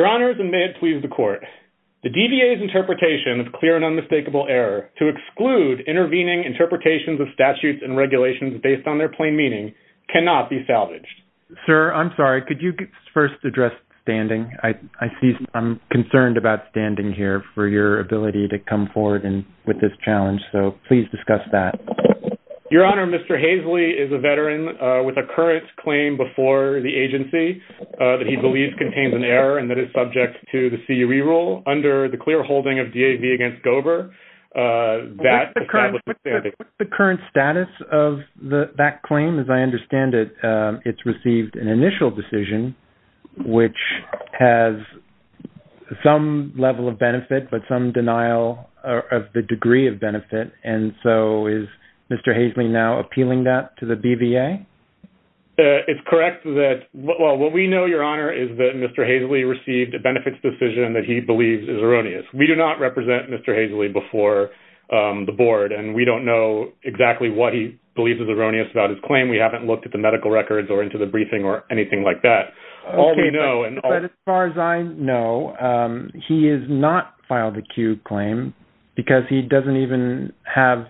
Your Honors, and may it please the Court, the DVA's interpretation of clear and unmistakable error to exclude intervening interpretations of statutes and regulations based on their plain meaning cannot be salvaged. Sir, I'm sorry, could you first address standing? I'm concerned about standing here for your ability to come forward with this challenge, so please discuss that. Your Honor, Mr. Haisley is a veteran with a current claim before the agency that he believes contains an error and that it's subject to the CUE rule under the clear holding of DAV against Gober that establishes standing. What's the current status of that claim? As I understand it, it's received an initial decision which has some level of benefit but some denial of the degree of benefit, and so is Mr. Haisley now appealing that to the BVA? It's correct that, well, what we know, Your Honor, is that Mr. Haisley received a benefits decision that he believes is erroneous. We do not represent Mr. Haisley before the Board, and we don't know exactly what he believes is erroneous about his claim. We haven't looked at the medical records or into the briefing or anything like that. All we know— But as far as I know, he has not filed a CUE claim because he doesn't even have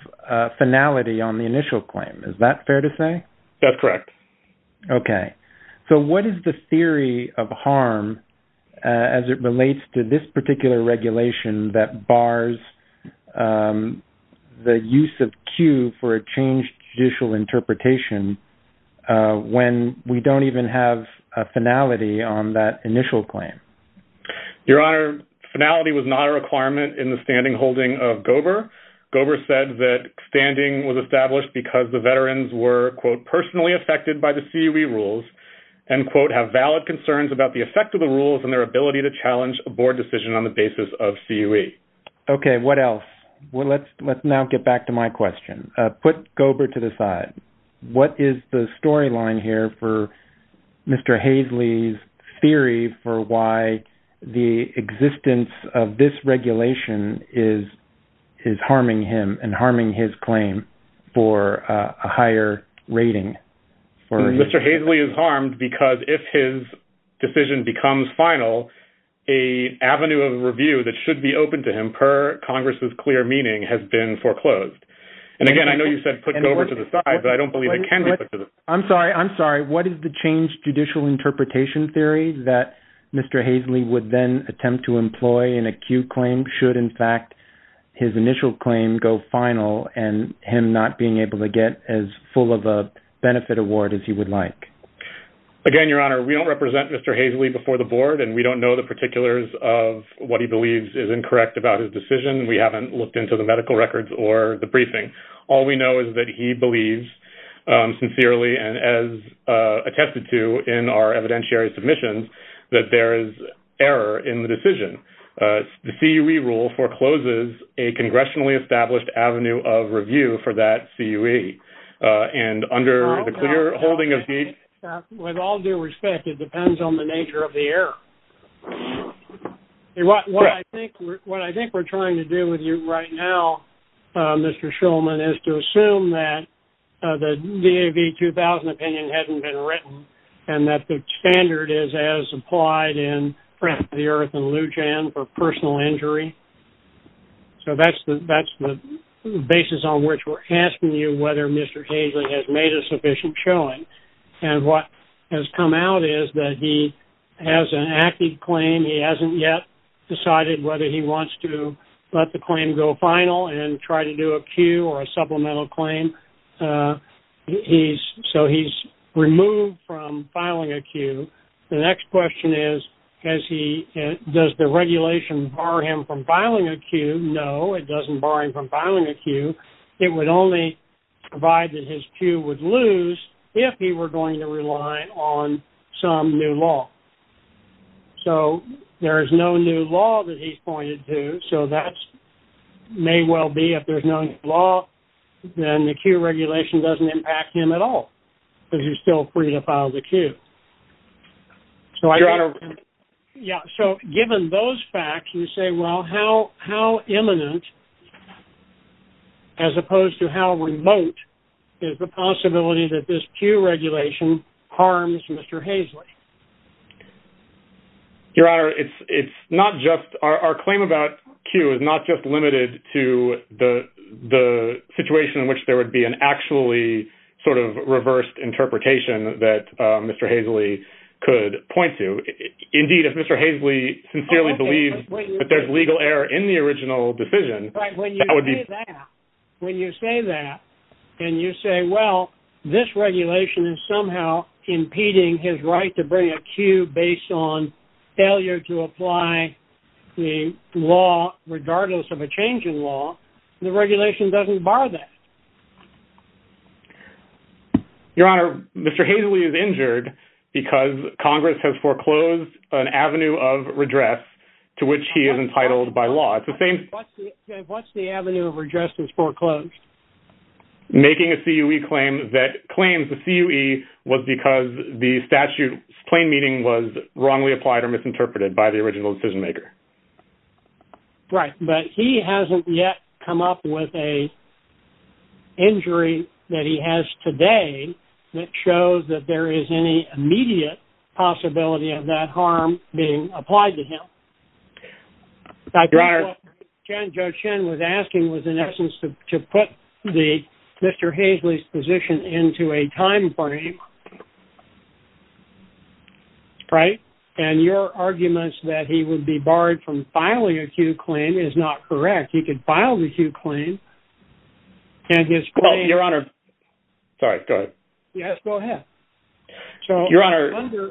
finality on the initial claim. Is that fair to say? That's correct. Okay. So what is the theory of harm as it relates to this particular regulation that bars the use of CUE for a changed judicial interpretation when we don't even have a finality on that initial claim? Your Honor, finality was not a requirement in the standing holding of Gober. Gober said that standing was established because the veterans were, quote, personally affected by the CUE rules and, quote, have valid concerns about the effect of the rules and their ability to challenge a Board decision on the basis of CUE. Okay. What else? Well, let's now get back to my question. Put Gober to the side. What is the storyline here for Mr. Haisley's theory for why the existence of this regulation is harming him and harming his claim for a higher rating? Mr. Haisley is harmed because if his decision becomes final, a avenue of review that should be open to him per Congress's clear meaning has been foreclosed. And again, I know you said put Gober to the side, but I don't believe it can be put to the side. I'm sorry. I'm sorry. What is the changed judicial interpretation theory that Mr. Haisley would then attempt to employ in a CUE claim should, in fact, his initial claim go final and him not being able to get as full of a benefit award as he would like? Again, Your Honor, we don't represent Mr. Haisley before the Board, and we don't know the particulars of what he believes is incorrect about his decision. We haven't looked into the medical records or the briefing. All we know is that he believes sincerely and as attested to in our evidentiary submissions that there is error in the decision. The CUE rule forecloses a congressionally established avenue of review for that CUE. And under the clear holding of the... With all due respect, it depends on the nature of the error. What I think we're trying to do with you right now, Mr. Shulman, is to assume that the DAV-2000 opinion hasn't been written and that the standard is as applied in the Earth and Lujan for personal injury. So that's the basis on which we're asking you whether Mr. Haisley has made a sufficient showing. And what has come out is that he has an active claim, he hasn't yet decided whether he wants to let the claim go final and try to do a CUE or a supplemental claim. So he's removed from filing a CUE. The next question is, does the regulation bar him from filing a CUE? No, it doesn't bar him from filing a CUE. It would only provide that his CUE would lose if he were going to rely on some new law. So there is no new law that he's pointed to. So that may well be if there's no new law, then the CUE regulation doesn't impact him at all because he's still free to file the CUE. So given those facts, you say, well, how imminent, as opposed to how remote, is the possibility that this CUE regulation harms Mr. Haisley? Your Honor, it's not just our claim about CUE is not just limited to the situation in which there would be an actually sort of reversed interpretation that Mr. Haisley could point to. Indeed, if Mr. Haisley sincerely believes that there's legal error in the original decision, that would be... When you say that, and you say, well, this regulation is somehow impeding his right to bring a CUE based on failure to apply the law, regardless of a change in law, the regulation doesn't bar that. Your Honor, Mr. Haisley is injured because Congress has foreclosed an avenue of redress to which he is entitled by law. It's the same... What's the avenue of redress that's foreclosed? Making a CUE claim that claims the CUE was because the statute's plain meaning was wrongly applied or misinterpreted by the original decision maker. Right. But he hasn't yet come up with a injury that he has today that shows that there is any immediate possibility of that harm being applied to him. Your Honor... I think what Judge Chen was asking was, in essence, to put Mr. Haisley's position into a time frame, right? And your arguments that he would be barred from filing a CUE claim is not correct. He could file the CUE claim and his claim... Well, Your Honor... Sorry, go ahead. Yes, go ahead. So... Your Honor...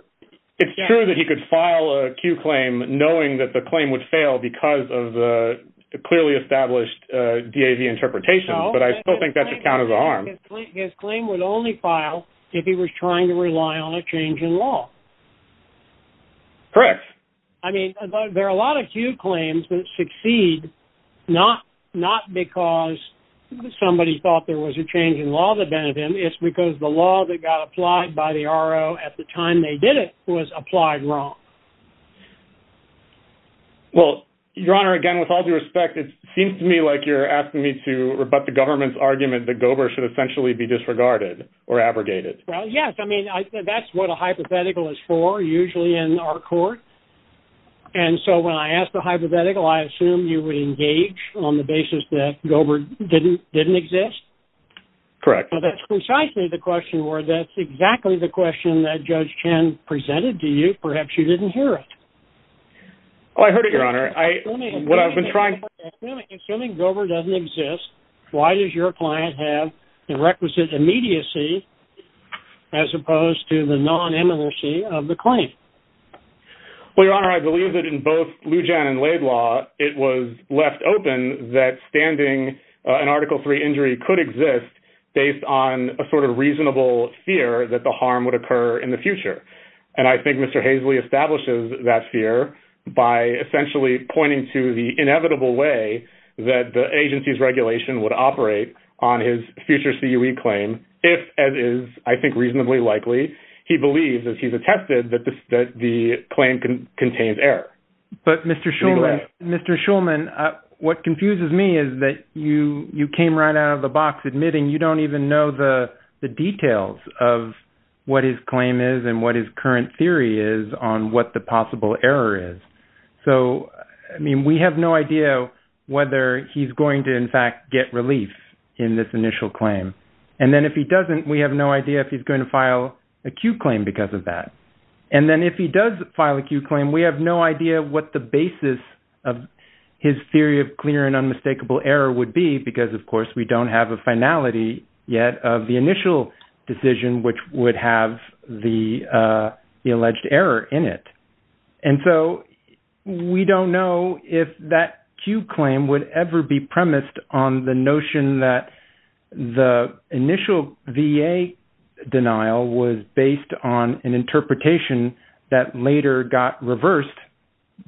It's true that he could file a CUE claim knowing that the claim would fail because of the clearly established DAV interpretation, but I still think that's a count as a harm. His claim would only file if he was trying to rely on a change in law. Correct. I mean, there are a lot of CUE claims that succeed not because somebody thought there was a change in law that benefited him, it's because the law that got applied by the RO at the time they did it was applied wrong. Well, Your Honor, again, with all due respect, it seems to me like you're asking me to rebut the government's argument that Gober should essentially be disregarded or abrogated. Well, yes. I mean, that's what a hypothetical is for, usually in our court. And so when I asked the hypothetical, I assumed you would engage on the basis that Gober didn't exist. Correct. Well, that's precisely the question where that's exactly the question that Judge Chen presented to you. Perhaps you didn't hear it. Well, I heard it, Your Honor. I mean, what I've been trying to... Assuming Gober doesn't exist, why does your client have the requisite immediacy as opposed to the non-immolacy of the claim? Well, Your Honor, I believe that in both Lujan and Laidlaw, it was left open that standing an Article III injury could exist based on a sort of reasonable fear that the harm would occur in the future. And I think Mr. Hazley establishes that fear by essentially pointing to the inevitable way that the agency's regulation would operate on his future CUE claim if, as is I think reasonably likely, he believes, as he's attested, that the claim contains error. But, Mr. Shulman, Mr. Shulman, what confuses me is that you came right out of the box admitting you don't even know the details of what his claim is and what his current theory is on what the possible error is. So, I mean, we have no idea whether he's going to, in fact, get relief in this initial claim. And then if he doesn't, we have no idea if he's going to file a CUE claim because of that. And then if he does file a CUE claim, we have no idea what the basis of his theory of clear and unmistakable error would be because, of course, we don't have a finality yet of the initial decision, which would have the alleged error in it. And so we don't know if that CUE claim would ever be premised on the notion that the interpretation that later got reversed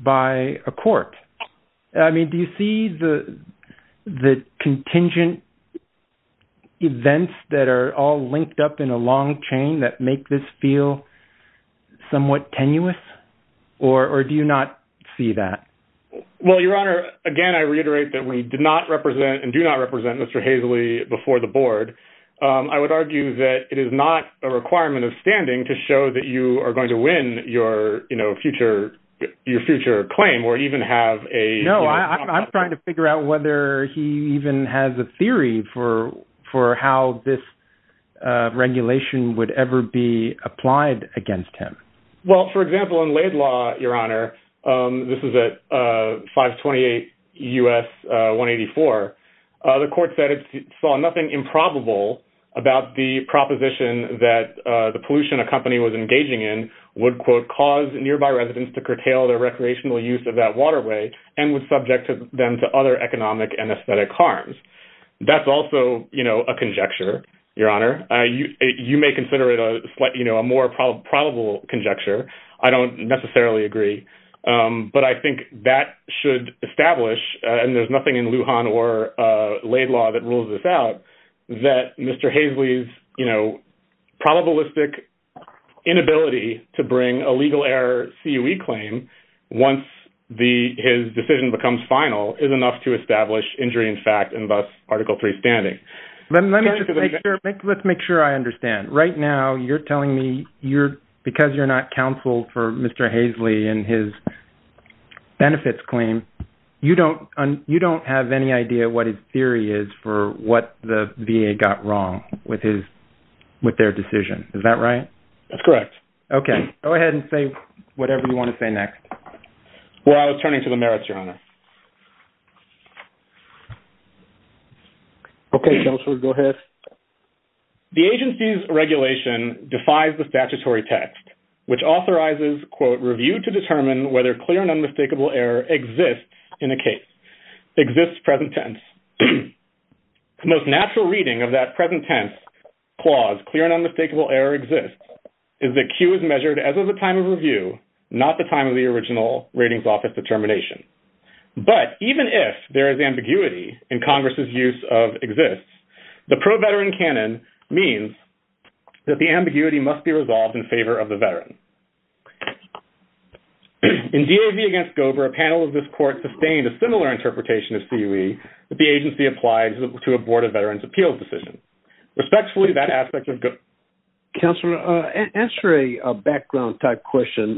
by a court. I mean, do you see the contingent events that are all linked up in a long chain that make this feel somewhat tenuous or do you not see that? Well, Your Honor, again, I reiterate that we did not represent and do not represent Mr. Haseley before the board. I would argue that it is not a requirement of standing to show that you are going to win your future claim or even have a. No, I'm trying to figure out whether he even has a theory for how this regulation would ever be applied against him. Well, for example, in Laidlaw, Your Honor, this is at 528 U.S. 184. The court said it saw nothing improbable about the proposition that the pollution a company was engaging in would, quote, cause nearby residents to curtail their recreational use of that waterway and was subject to them to other economic and aesthetic harms. That's also a conjecture, Your Honor. You may consider it a more probable conjecture. I don't necessarily agree. But I think that should establish, and there's nothing in Lujan or Laidlaw that rules this out, that Mr. Haseley's, you know, probabilistic inability to bring a legal error CUE claim once the his decision becomes final is enough to establish injury in fact, and thus Article 3 standing. Let's make sure I understand right now. You're telling me you're because you're not counseled for Mr. Haseley and his benefits claim. You don't you don't have any idea what his theory is for what the VA got wrong with his with their decision. Is that right? That's correct. OK, go ahead and say whatever you want to say next. Well, I was turning to the merits, Your Honor. OK, go ahead. The agency's regulation defies the statutory text, which authorizes, quote, review to determine whether clear and unmistakable error exists in a case, exists present tense. The most natural reading of that present tense clause, clear and unmistakable error exists, is that CUE is measured as of the time of review, not the time of the original ratings office determination. But even if there is ambiguity in Congress's use of exists, the pro-veteran canon means that the ambiguity must be resolved in favor of the veteran. In DAV against Gober, a panel of this court sustained a similar interpretation of CUE that the agency applies to a Board of Veterans Appeals decision. Respectfully, that aspect of Gober. Counselor, answer a background type question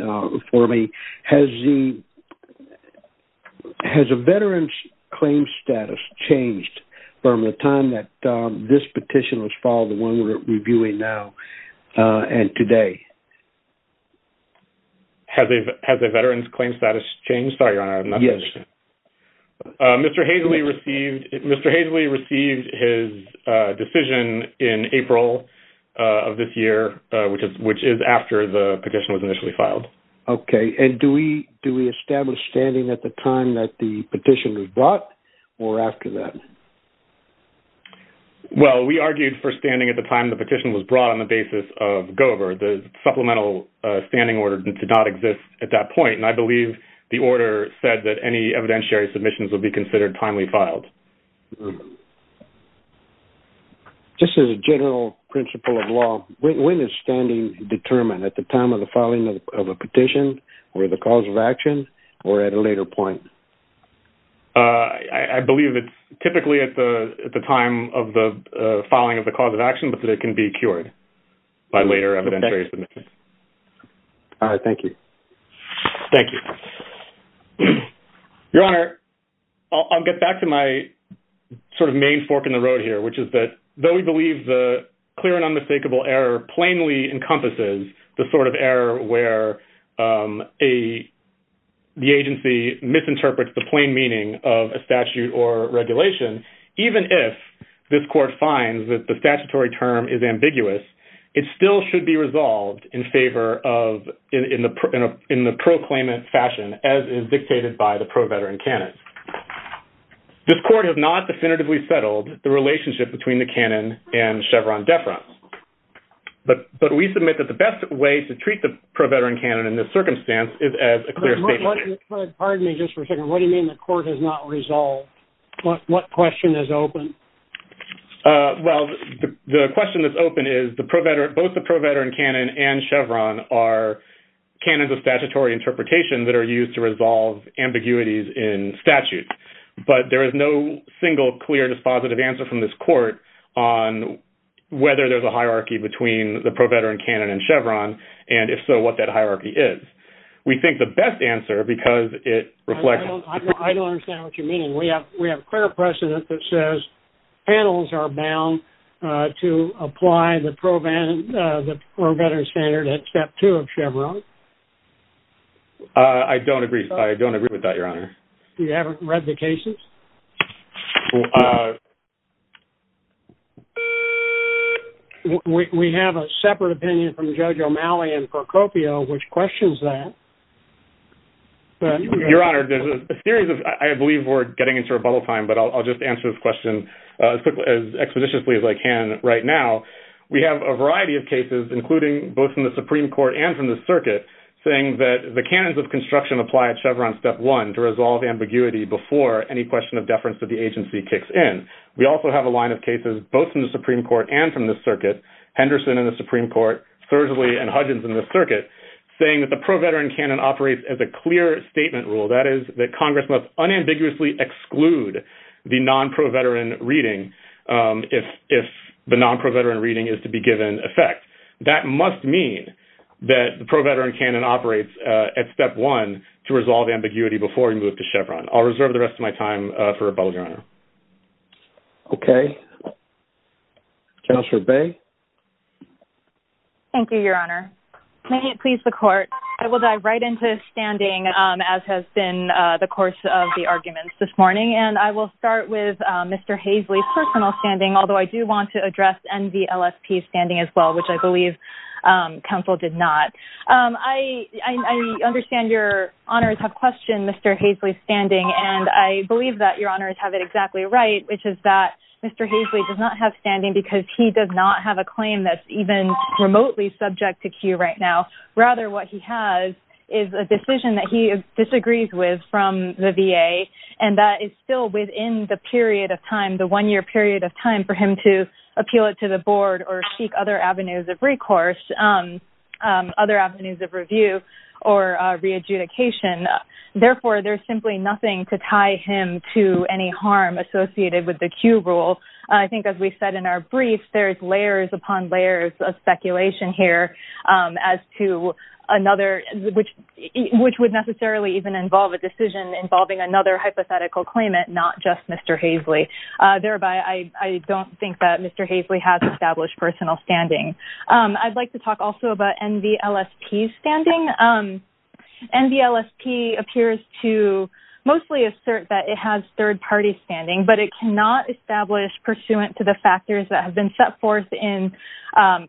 for me. Has the-has a veteran's claim status changed from the time that this petition was filed, the one we're reviewing now and today? Has a-has a veteran's claim status changed? Sorry, Your Honor, I'm not- Yes. Mr. Haseley received-Mr. Haseley received his decision in April of this year, which is-which is after the petition was initially filed. Okay. And do we-do we establish standing at the time that the petition was brought or after that? Well, we argued for standing at the time the petition was brought on the basis of Gober. The supplemental standing order did not exist at that point, and I believe the order said that any evidentiary submissions would be considered timely filed. Just as a general principle of law, when is standing determined? At the time of the filing of a petition, or the cause of action, or at a later point? I believe it's typically at the-at the time of the filing of the cause of action, but that it can be cured by later evidentiary submissions. All right. Thank you. Thank you. Your Honor, I'll-I'll get back to my sort of main fork in the road here, which is that though we believe the clear and unmistakable error plainly encompasses the sort of error where a-the agency misinterprets the plain meaning of a statute or regulation, even if this court finds that the statutory term is ambiguous, it still should be resolved in the pro-veteran canon. This court has not definitively settled the relationship between the canon and Chevron deference, but-but we submit that the best way to treat the pro-veteran canon in this circumstance is as a clear statement. What-what-pardon me just for a second. What do you mean the court has not resolved? What-what question is open? Well, the-the question that's open is the pro-veteran-both the pro-veteran canon and the ambiguities in statute, but there is no single clear dispositive answer from this court on whether there's a hierarchy between the pro-veteran canon and Chevron, and if so, what that hierarchy is. We think the best answer, because it reflects- I don't-I don't-I don't understand what you mean. We have-we have clear precedent that says panels are bound to apply the pro-veteran standard at step two of Chevron. I don't agree. I don't agree with that, Your Honor. You haven't read the cases? We have a separate opinion from Judge O'Malley and Procopio, which questions that. Your Honor, there's a series of-I believe we're getting into rebuttal time, but I'll just answer this question as expeditiously as I can right now. We have a variety of cases, including both from the Supreme Court and from the circuit, saying that the canons of construction apply at Chevron step one to resolve ambiguity before any question of deference to the agency kicks in. We also have a line of cases, both from the Supreme Court and from the circuit, Henderson in the Supreme Court, Sersley and Hudgins in the circuit, saying that the pro-veteran canon operates as a clear statement rule. That is, that Congress must unambiguously exclude the non-pro-veteran reading if the non-pro-veteran reading is to be given effect. That must mean that the pro-veteran canon operates at step one to resolve ambiguity before we move to Chevron. I'll reserve the rest of my time for rebuttal, Your Honor. OK. Counselor Bey? Thank you, Your Honor. May it please the Court, I will dive right into standing, as has been the course of the arguments this morning, and I will start with Mr. Hasley's standing as well, which I believe counsel did not. I understand your honors have questioned Mr. Hasley's standing, and I believe that your honors have it exactly right, which is that Mr. Hasley does not have standing because he does not have a claim that's even remotely subject to Q right now. Rather, what he has is a decision that he disagrees with from the VA, and that is still within the period of time, the one-year period of time for him to appeal it to the board or seek other avenues of recourse, other avenues of review or re-adjudication. Therefore, there's simply nothing to tie him to any harm associated with the Q rule. I think, as we said in our brief, there's layers upon layers of speculation here as to another, which would necessarily even involve a decision involving another hypothetical claimant, not just Mr. Hasley. Thereby, I don't think that Mr. Hasley has established personal standing. I'd like to talk also about NVLSP's standing. NVLSP appears to mostly assert that it has third party standing, but it cannot establish pursuant to the factors that have been set forth in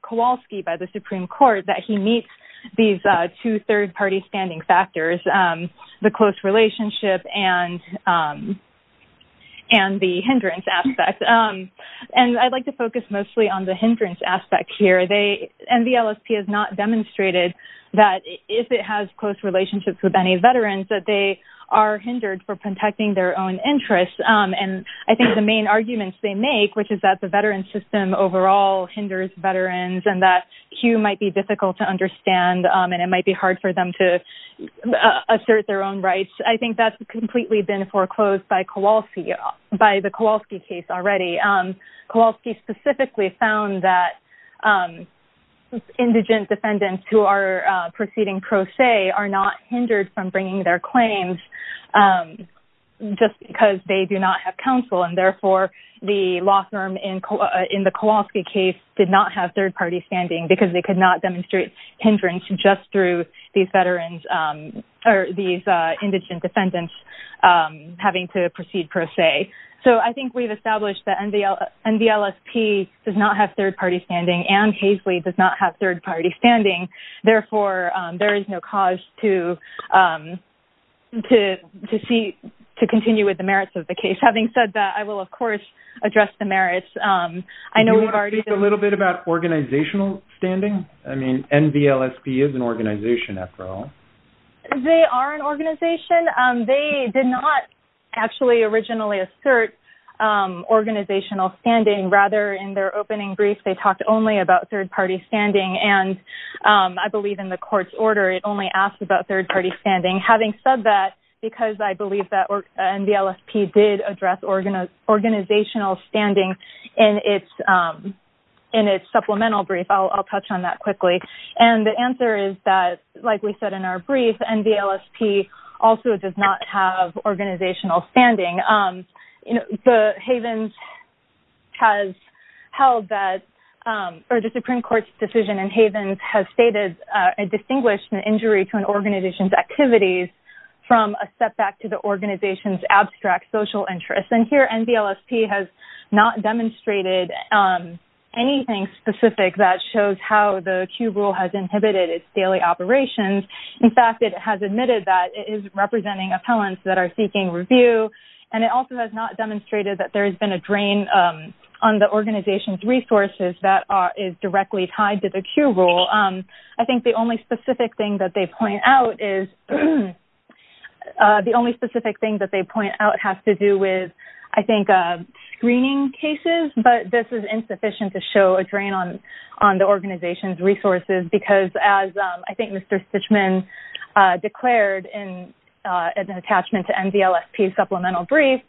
Kowalski by the Supreme Court that he meets these two third party standing factors, the close relationship and the hindrance aspect. And I'd like to focus mostly on the hindrance aspect here. NVLSP has not demonstrated that if it has close relationships with any veterans, that they are hindered for protecting their own interests. And I think the main arguments they make, which is that the veteran system overall hinders veterans and that Q might be difficult to understand and it might be hard for them to assert their own rights. I think that's completely been foreclosed by Kowalski, by the Kowalski case already. Kowalski specifically found that indigent defendants who are proceeding pro se are not hindered from bringing their claims just because they do not have counsel. And therefore, the law firm in the Kowalski case did not have third party standing because they could not demonstrate hindrance just through these veterans or these indigent defendants having to proceed pro se. So I think we've established that NVLSP does not have third party standing and Haseley does not have third party standing. Therefore, there is no cause to continue with the merits of the case. Having said that, I will, of course, address the merits. I know we've already... Can you speak a little bit about organizational standing? I mean, NVLSP is an organization after all. They are an organization. They did not actually originally assert organizational standing. Rather, in their opening brief, they talked only about third party standing. And I believe in the court's order, it only asked about third party standing. Having said that, because I believe that NVLSP did address organizational standing in its supplemental brief, I'll touch on that quickly. And the answer is that, like we said in our brief, NVLSP also does not have organizational standing. The Havens has held that, or the Supreme Court's decision in Havens has stated a distinguished injury to an organization's activities from a setback to the organization's abstract social interests. And here, NVLSP has not demonstrated anything specific that shows how the Q rule has inhibited its daily operations. In fact, it has admitted that it is representing appellants that are seeking review. And it also has not demonstrated that there has been a drain on the organization's resources that is directly tied to the Q rule. I think the only specific thing that they point out has to do with, I think, screening cases. But this is insufficient to show a drain on the organization's resources, because as I think Mr. Stichman declared in an attachment to NVLSP's supplemental brief,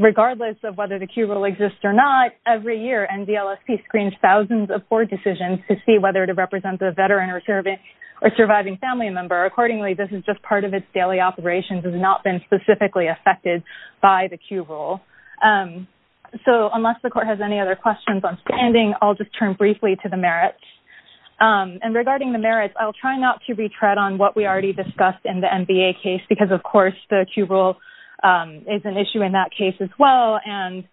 regardless of whether the Q rule exists or not, every year NVLSP screens thousands of board decisions to see whether to represent a veteran or surviving family member. Accordingly, this is just part of its daily operations. It has not been specifically affected by the Q rule. So unless the court has any other questions on standing, I'll just turn briefly to the merits. And regarding the merits, I'll try not to retread on what we already discussed in the MBA case, because of course the Q rule is an issue in that case as well. And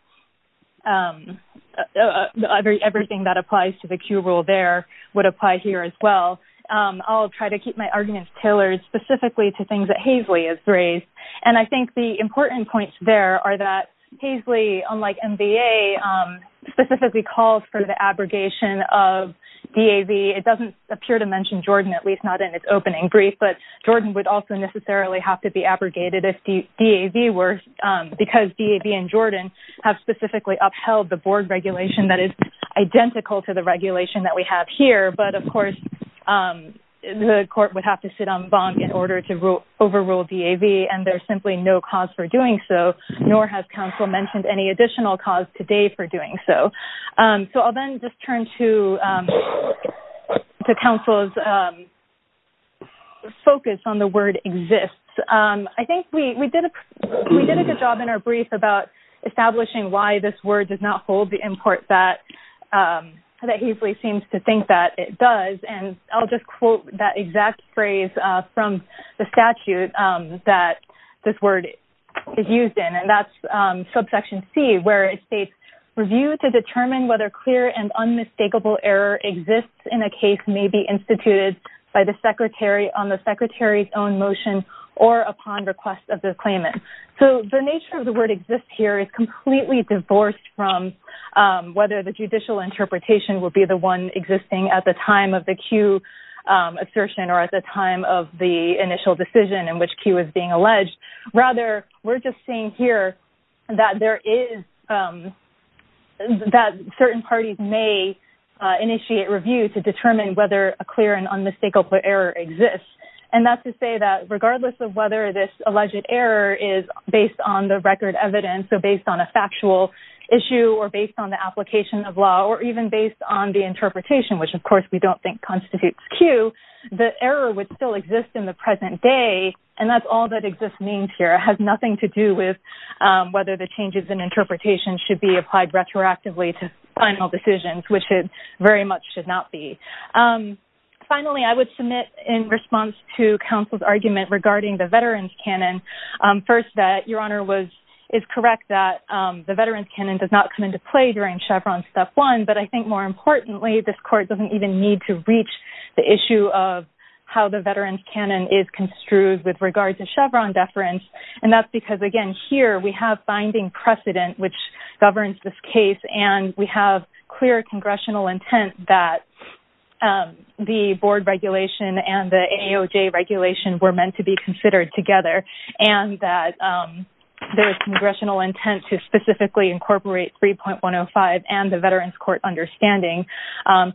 everything that applies to the Q rule there would apply here as well. I'll try to keep my arguments tailored specifically to things that Haisley has raised. And I think the important points there are that Haisley, unlike MBA, specifically calls for the abrogation of DAV. It doesn't appear to mention Jordan, at least not in its opening brief. But Jordan would also necessarily have to be abrogated if DAV were, because DAV and Jordan have specifically upheld the board regulation that is identical to the regulation that we have here. But of course, the court would have to sit on bond in order to overrule DAV. And there's simply no cause for doing so, nor has counsel mentioned any additional cause today for doing so. So I'll then just turn to counsel's focus on the word exists. I think we did a good job in our brief about establishing why this word does not hold the import that Haisley seems to think that it does. And I'll just quote that exact phrase from the statute that this word is used in. That's subsection C, where it states, review to determine whether clear and unmistakable error exists in a case may be instituted by the secretary on the secretary's own motion or upon request of the claimant. So the nature of the word exist here is completely divorced from whether the judicial interpretation will be the one existing at the time of the Q assertion or at the time of the initial decision in which Q is being alleged. Rather, we're just saying here that certain parties may initiate review to determine whether a clear and unmistakable error exists. And that's to say that regardless of whether this alleged error is based on the record evidence, so based on a factual issue, or based on the application of law, or even based on the interpretation, which of course we don't think constitutes Q, the error would still exist in the present day. And that's all that exist means here. It has nothing to do with whether the changes in interpretation should be applied retroactively to final decisions, which it very much should not be. Finally, I would submit in response to counsel's argument regarding the veterans canon, first that Your Honor is correct that the veterans canon does not come into play during Chevron step one. But I think more importantly, this court doesn't even need to reach the issue of how the veterans canon is construed with regard to Chevron deference. And that's because, again, here we have binding precedent, which governs this case. And we have clear congressional intent that the board regulation and the AOJ regulation were meant to be considered together. And that there is congressional intent to specifically incorporate 3.105 and the veterans court understanding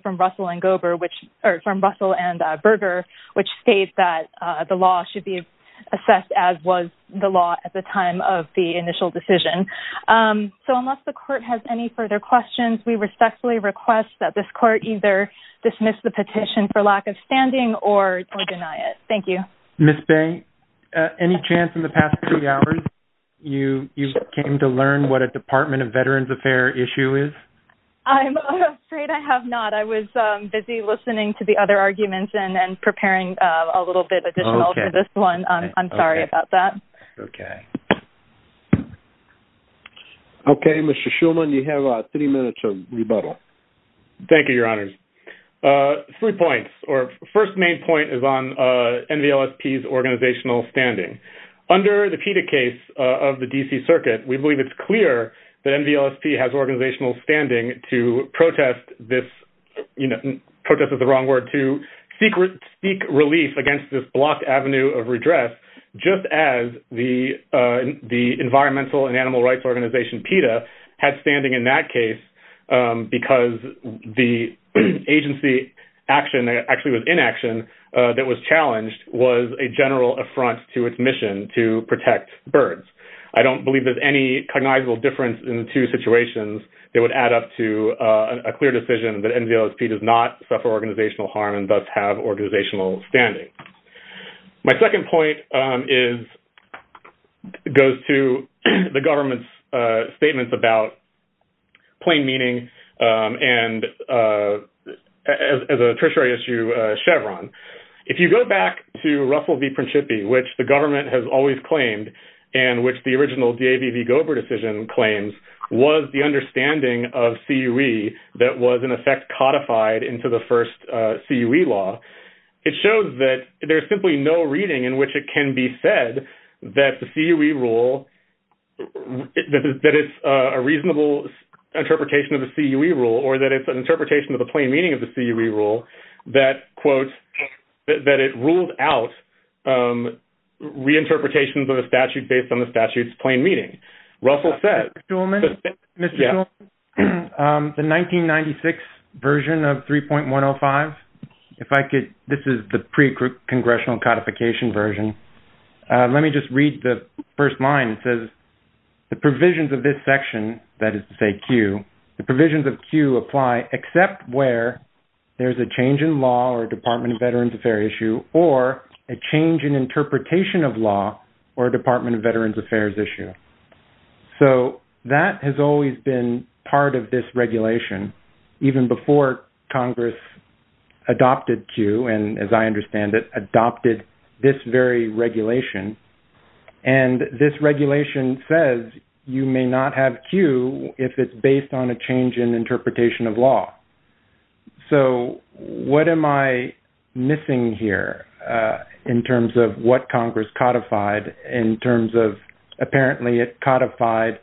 from Russell and Berger, which states that the law should be assessed as was the law at the time of the initial decision. So unless the court has any further questions, we respectfully request that this court either dismiss the petition for lack of standing or deny it. Thank you. Ms. Bey, any chance in the past three hours you came to learn what a Department of Veterans Affair issue is? I'm afraid I have not. I was busy listening to the other arguments and preparing a little bit additional to this one. I'm sorry about that. Okay. Okay, Mr. Shulman, you have three minutes of rebuttal. Thank you, Your Honors. Three points or first main point is on NVLSP's organizational standing. Under the PETA case of the DC Circuit, we believe it's clear that NVLSP has organizational standing to protest this, you know, protest is the wrong word, to seek relief against this blocked avenue of redress just as the environmental and animal rights organization PETA had standing in that case because the agency action that actually was inaction that was challenged was a general affront to its mission to protect birds. I don't believe there's any cognizable difference in the two situations that would add up to a clear decision that NVLSP does not suffer organizational harm and thus have organizational standing. My second point goes to the government's statements about plain meaning and as a tertiary issue, Chevron. If you go back to Russell v. Principi, which the government has always claimed and which the original DAV v. CUE that was, in effect, codified into the first CUE law, it shows that there's simply no reading in which it can be said that the CUE rule, that it's a reasonable interpretation of the CUE rule or that it's an interpretation of the plain meaning of the CUE rule that, quote, that it ruled out reinterpretations of the statute based on the statute's plain meaning. Russell said... Mr. Shulman, the 1996 version of 3.105, if I could... This is the pre-congressional codification version. Let me just read the first line. It says, the provisions of this section, that is to say CUE, the provisions of CUE apply except where there's a change in law or a Department of Veterans Affairs issue or a change in interpretation of law or a Department of Veterans Affairs issue. So that has always been part of this regulation, even before Congress adopted CUE and, as I understand it, adopted this very regulation. And this regulation says you may not have CUE if it's based on a change in interpretation of law. So what am I missing here in terms of what Congress codified in terms of, apparently, it codified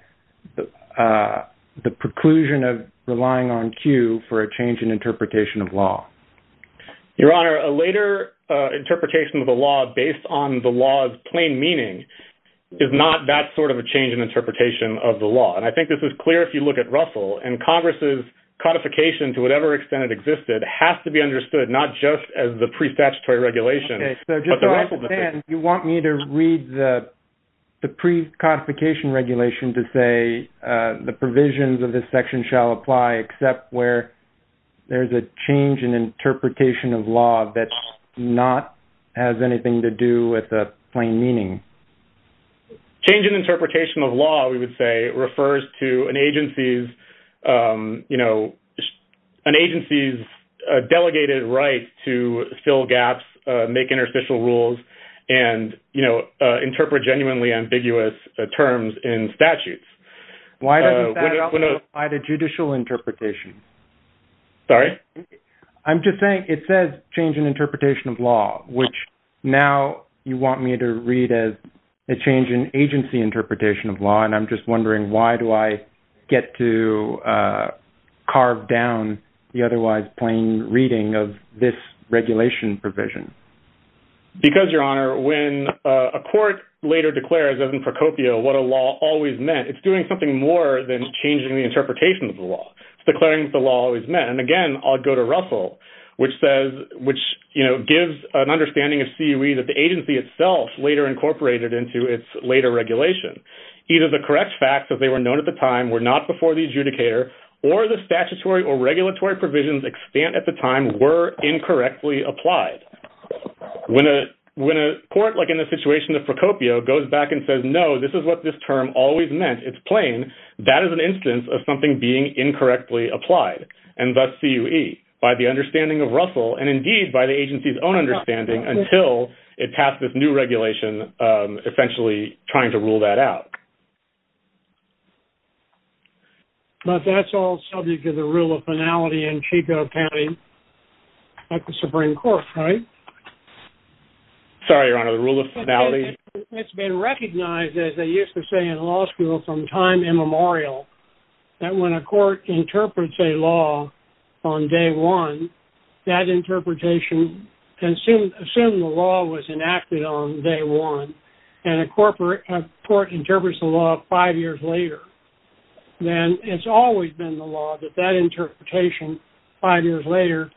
the preclusion of relying on CUE for a change in interpretation of law? Your Honor, a later interpretation of the law based on the law's plain meaning is not that sort of a change in interpretation of the law. And I think this is clear if you look at Russell. And Congress's codification, to whatever extent it existed, has to be understood, not just as the pre-statutory regulation. Just so I understand, you want me to read the pre-codification regulation to say the provisions of this section shall apply except where there's a change in interpretation of law that not has anything to do with the plain meaning? Change in interpretation of law, we would say, refers to an agency's delegated right to fill gaps, make interstitial rules, and interpret genuinely ambiguous terms in statutes. Why doesn't that also apply to judicial interpretation? Sorry? I'm just saying it says change in interpretation of law, which now you want me to read as a change in agency interpretation of law. And I'm just wondering, why do I get to carve down the otherwise plain reading of this regulation provision? Because, Your Honor, when a court later declares, as in Procopio, what a law always meant, it's doing something more than changing the interpretation of the law. It's declaring what the law always meant. And again, I'll go to Russell, which gives an understanding of CUE that the agency itself later incorporated into its later regulation. Either the correct facts, as they were known at the time, were not before the adjudicator, or the statutory or regulatory provisions at the time were incorrectly applied. When a court, like in the situation of Procopio, goes back and says, no, this is what this term always meant, it's plain, that is an instance of something being incorrectly applied, and thus CUE, by the understanding of Russell, and indeed by the agency's own understanding, until it passed this new regulation, essentially trying to rule that out. But that's all subject to the rule of finality in Chico County, like the Supreme Court, right? Sorry, Your Honor, the rule of finality? It's been recognized, as they used to say in law school from time immemorial, that when a court interprets a law on day one, that interpretation can assume the law was enacted on day one, and a court interprets the law five years later, then it's always been the law that that interpretation, five years later,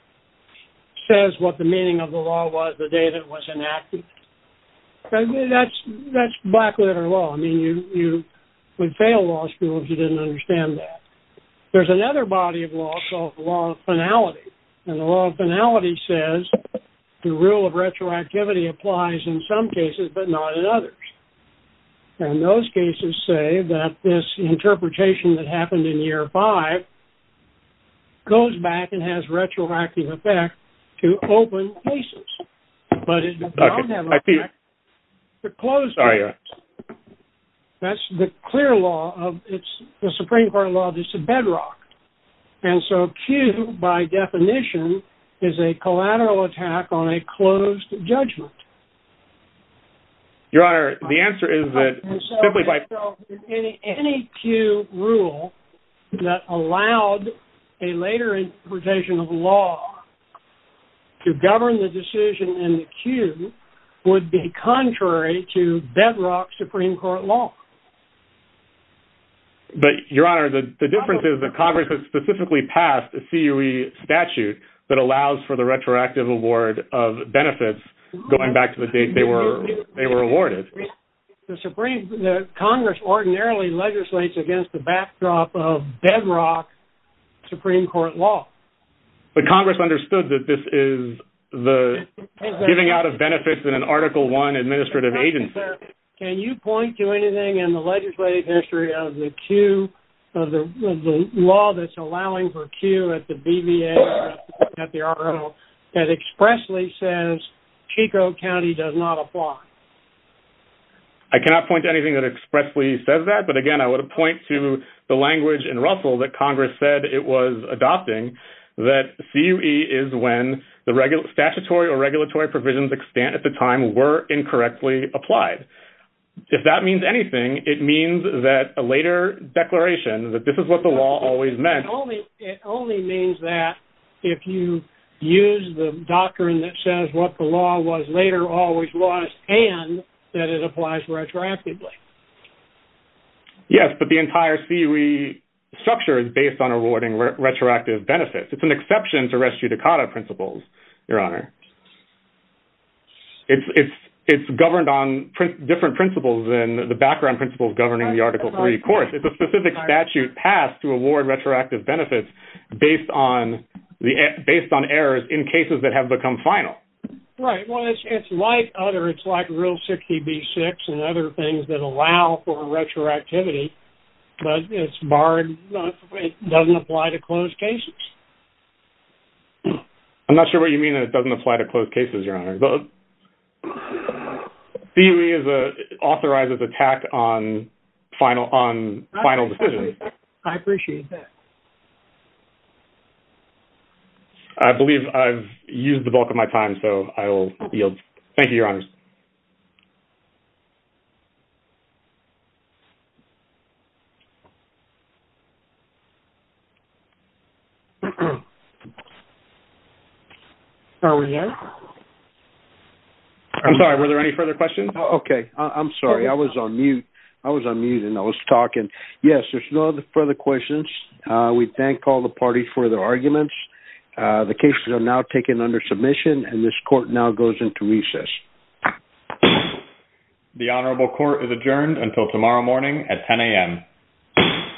says what the meaning of the law was the day that it was enacted. That's black-letter law. I mean, you would fail law school if you didn't understand that. There's another body of law called the law of finality, and the law of finality says the rule of retroactivity applies in some cases, but not in others. And those cases say that this interpretation that happened in year five goes back and has retroactive effect to open cases, but it does have an effect to close cases. That's the clear law of, it's the Supreme Court law, it's a bedrock. And so Q, by definition, is a collateral attack on a closed judgment. Your Honor, the answer is that simply by... Any Q rule that allowed a later interpretation of law to govern the decision in the Q would be contrary to bedrock Supreme Court law. But, Your Honor, the difference is that Congress has specifically passed a CUE statute that allows for the retroactive award of benefits going back to the date they were awarded. The Congress ordinarily legislates against the backdrop of bedrock Supreme Court law. But Congress understood that this is the giving out of benefits in an Article I agency. Can you point to anything in the legislative history of the Q, of the law that's allowing for Q at the BVA, at the RO, that expressly says Chico County does not apply? I cannot point to anything that expressly says that, but again, I would point to the language in Russell that Congress said it was adopting, that CUE is when the statutory or regulatory provisions extent at the time were incorrectly applied. If that means anything, it means that a later declaration that this is what the law always meant. It only means that if you use the doctrine that says what the law was later always was, and that it applies retroactively. Yes, but the entire CUE structure is based on awarding retroactive benefits. It's an exception to res judicata principles, Your Honor. It's governed on different principles than the background principles governing the Article III course. It's a specific statute passed to award retroactive benefits based on errors in cases that have become final. Right. Well, it's like other, it's like Rule 60B-6 and other things that allow for retroactivity, but it's barred, it doesn't apply to closed cases. I'm not sure what you mean that it doesn't apply to closed cases, Your Honor. CUE authorizes a tact on final decisions. I appreciate that. I believe I've used the bulk of my time, so I will yield. Thank you, Your Honors. Are we here? I'm sorry, were there any further questions? Okay, I'm sorry. I was on mute. I was on mute and I was talking. Yes, there's no further questions. We thank all the parties for their arguments. The cases are now taken under submission and this court now goes into recess. The Honorable Court is adjourned until tomorrow morning at 10 a.m.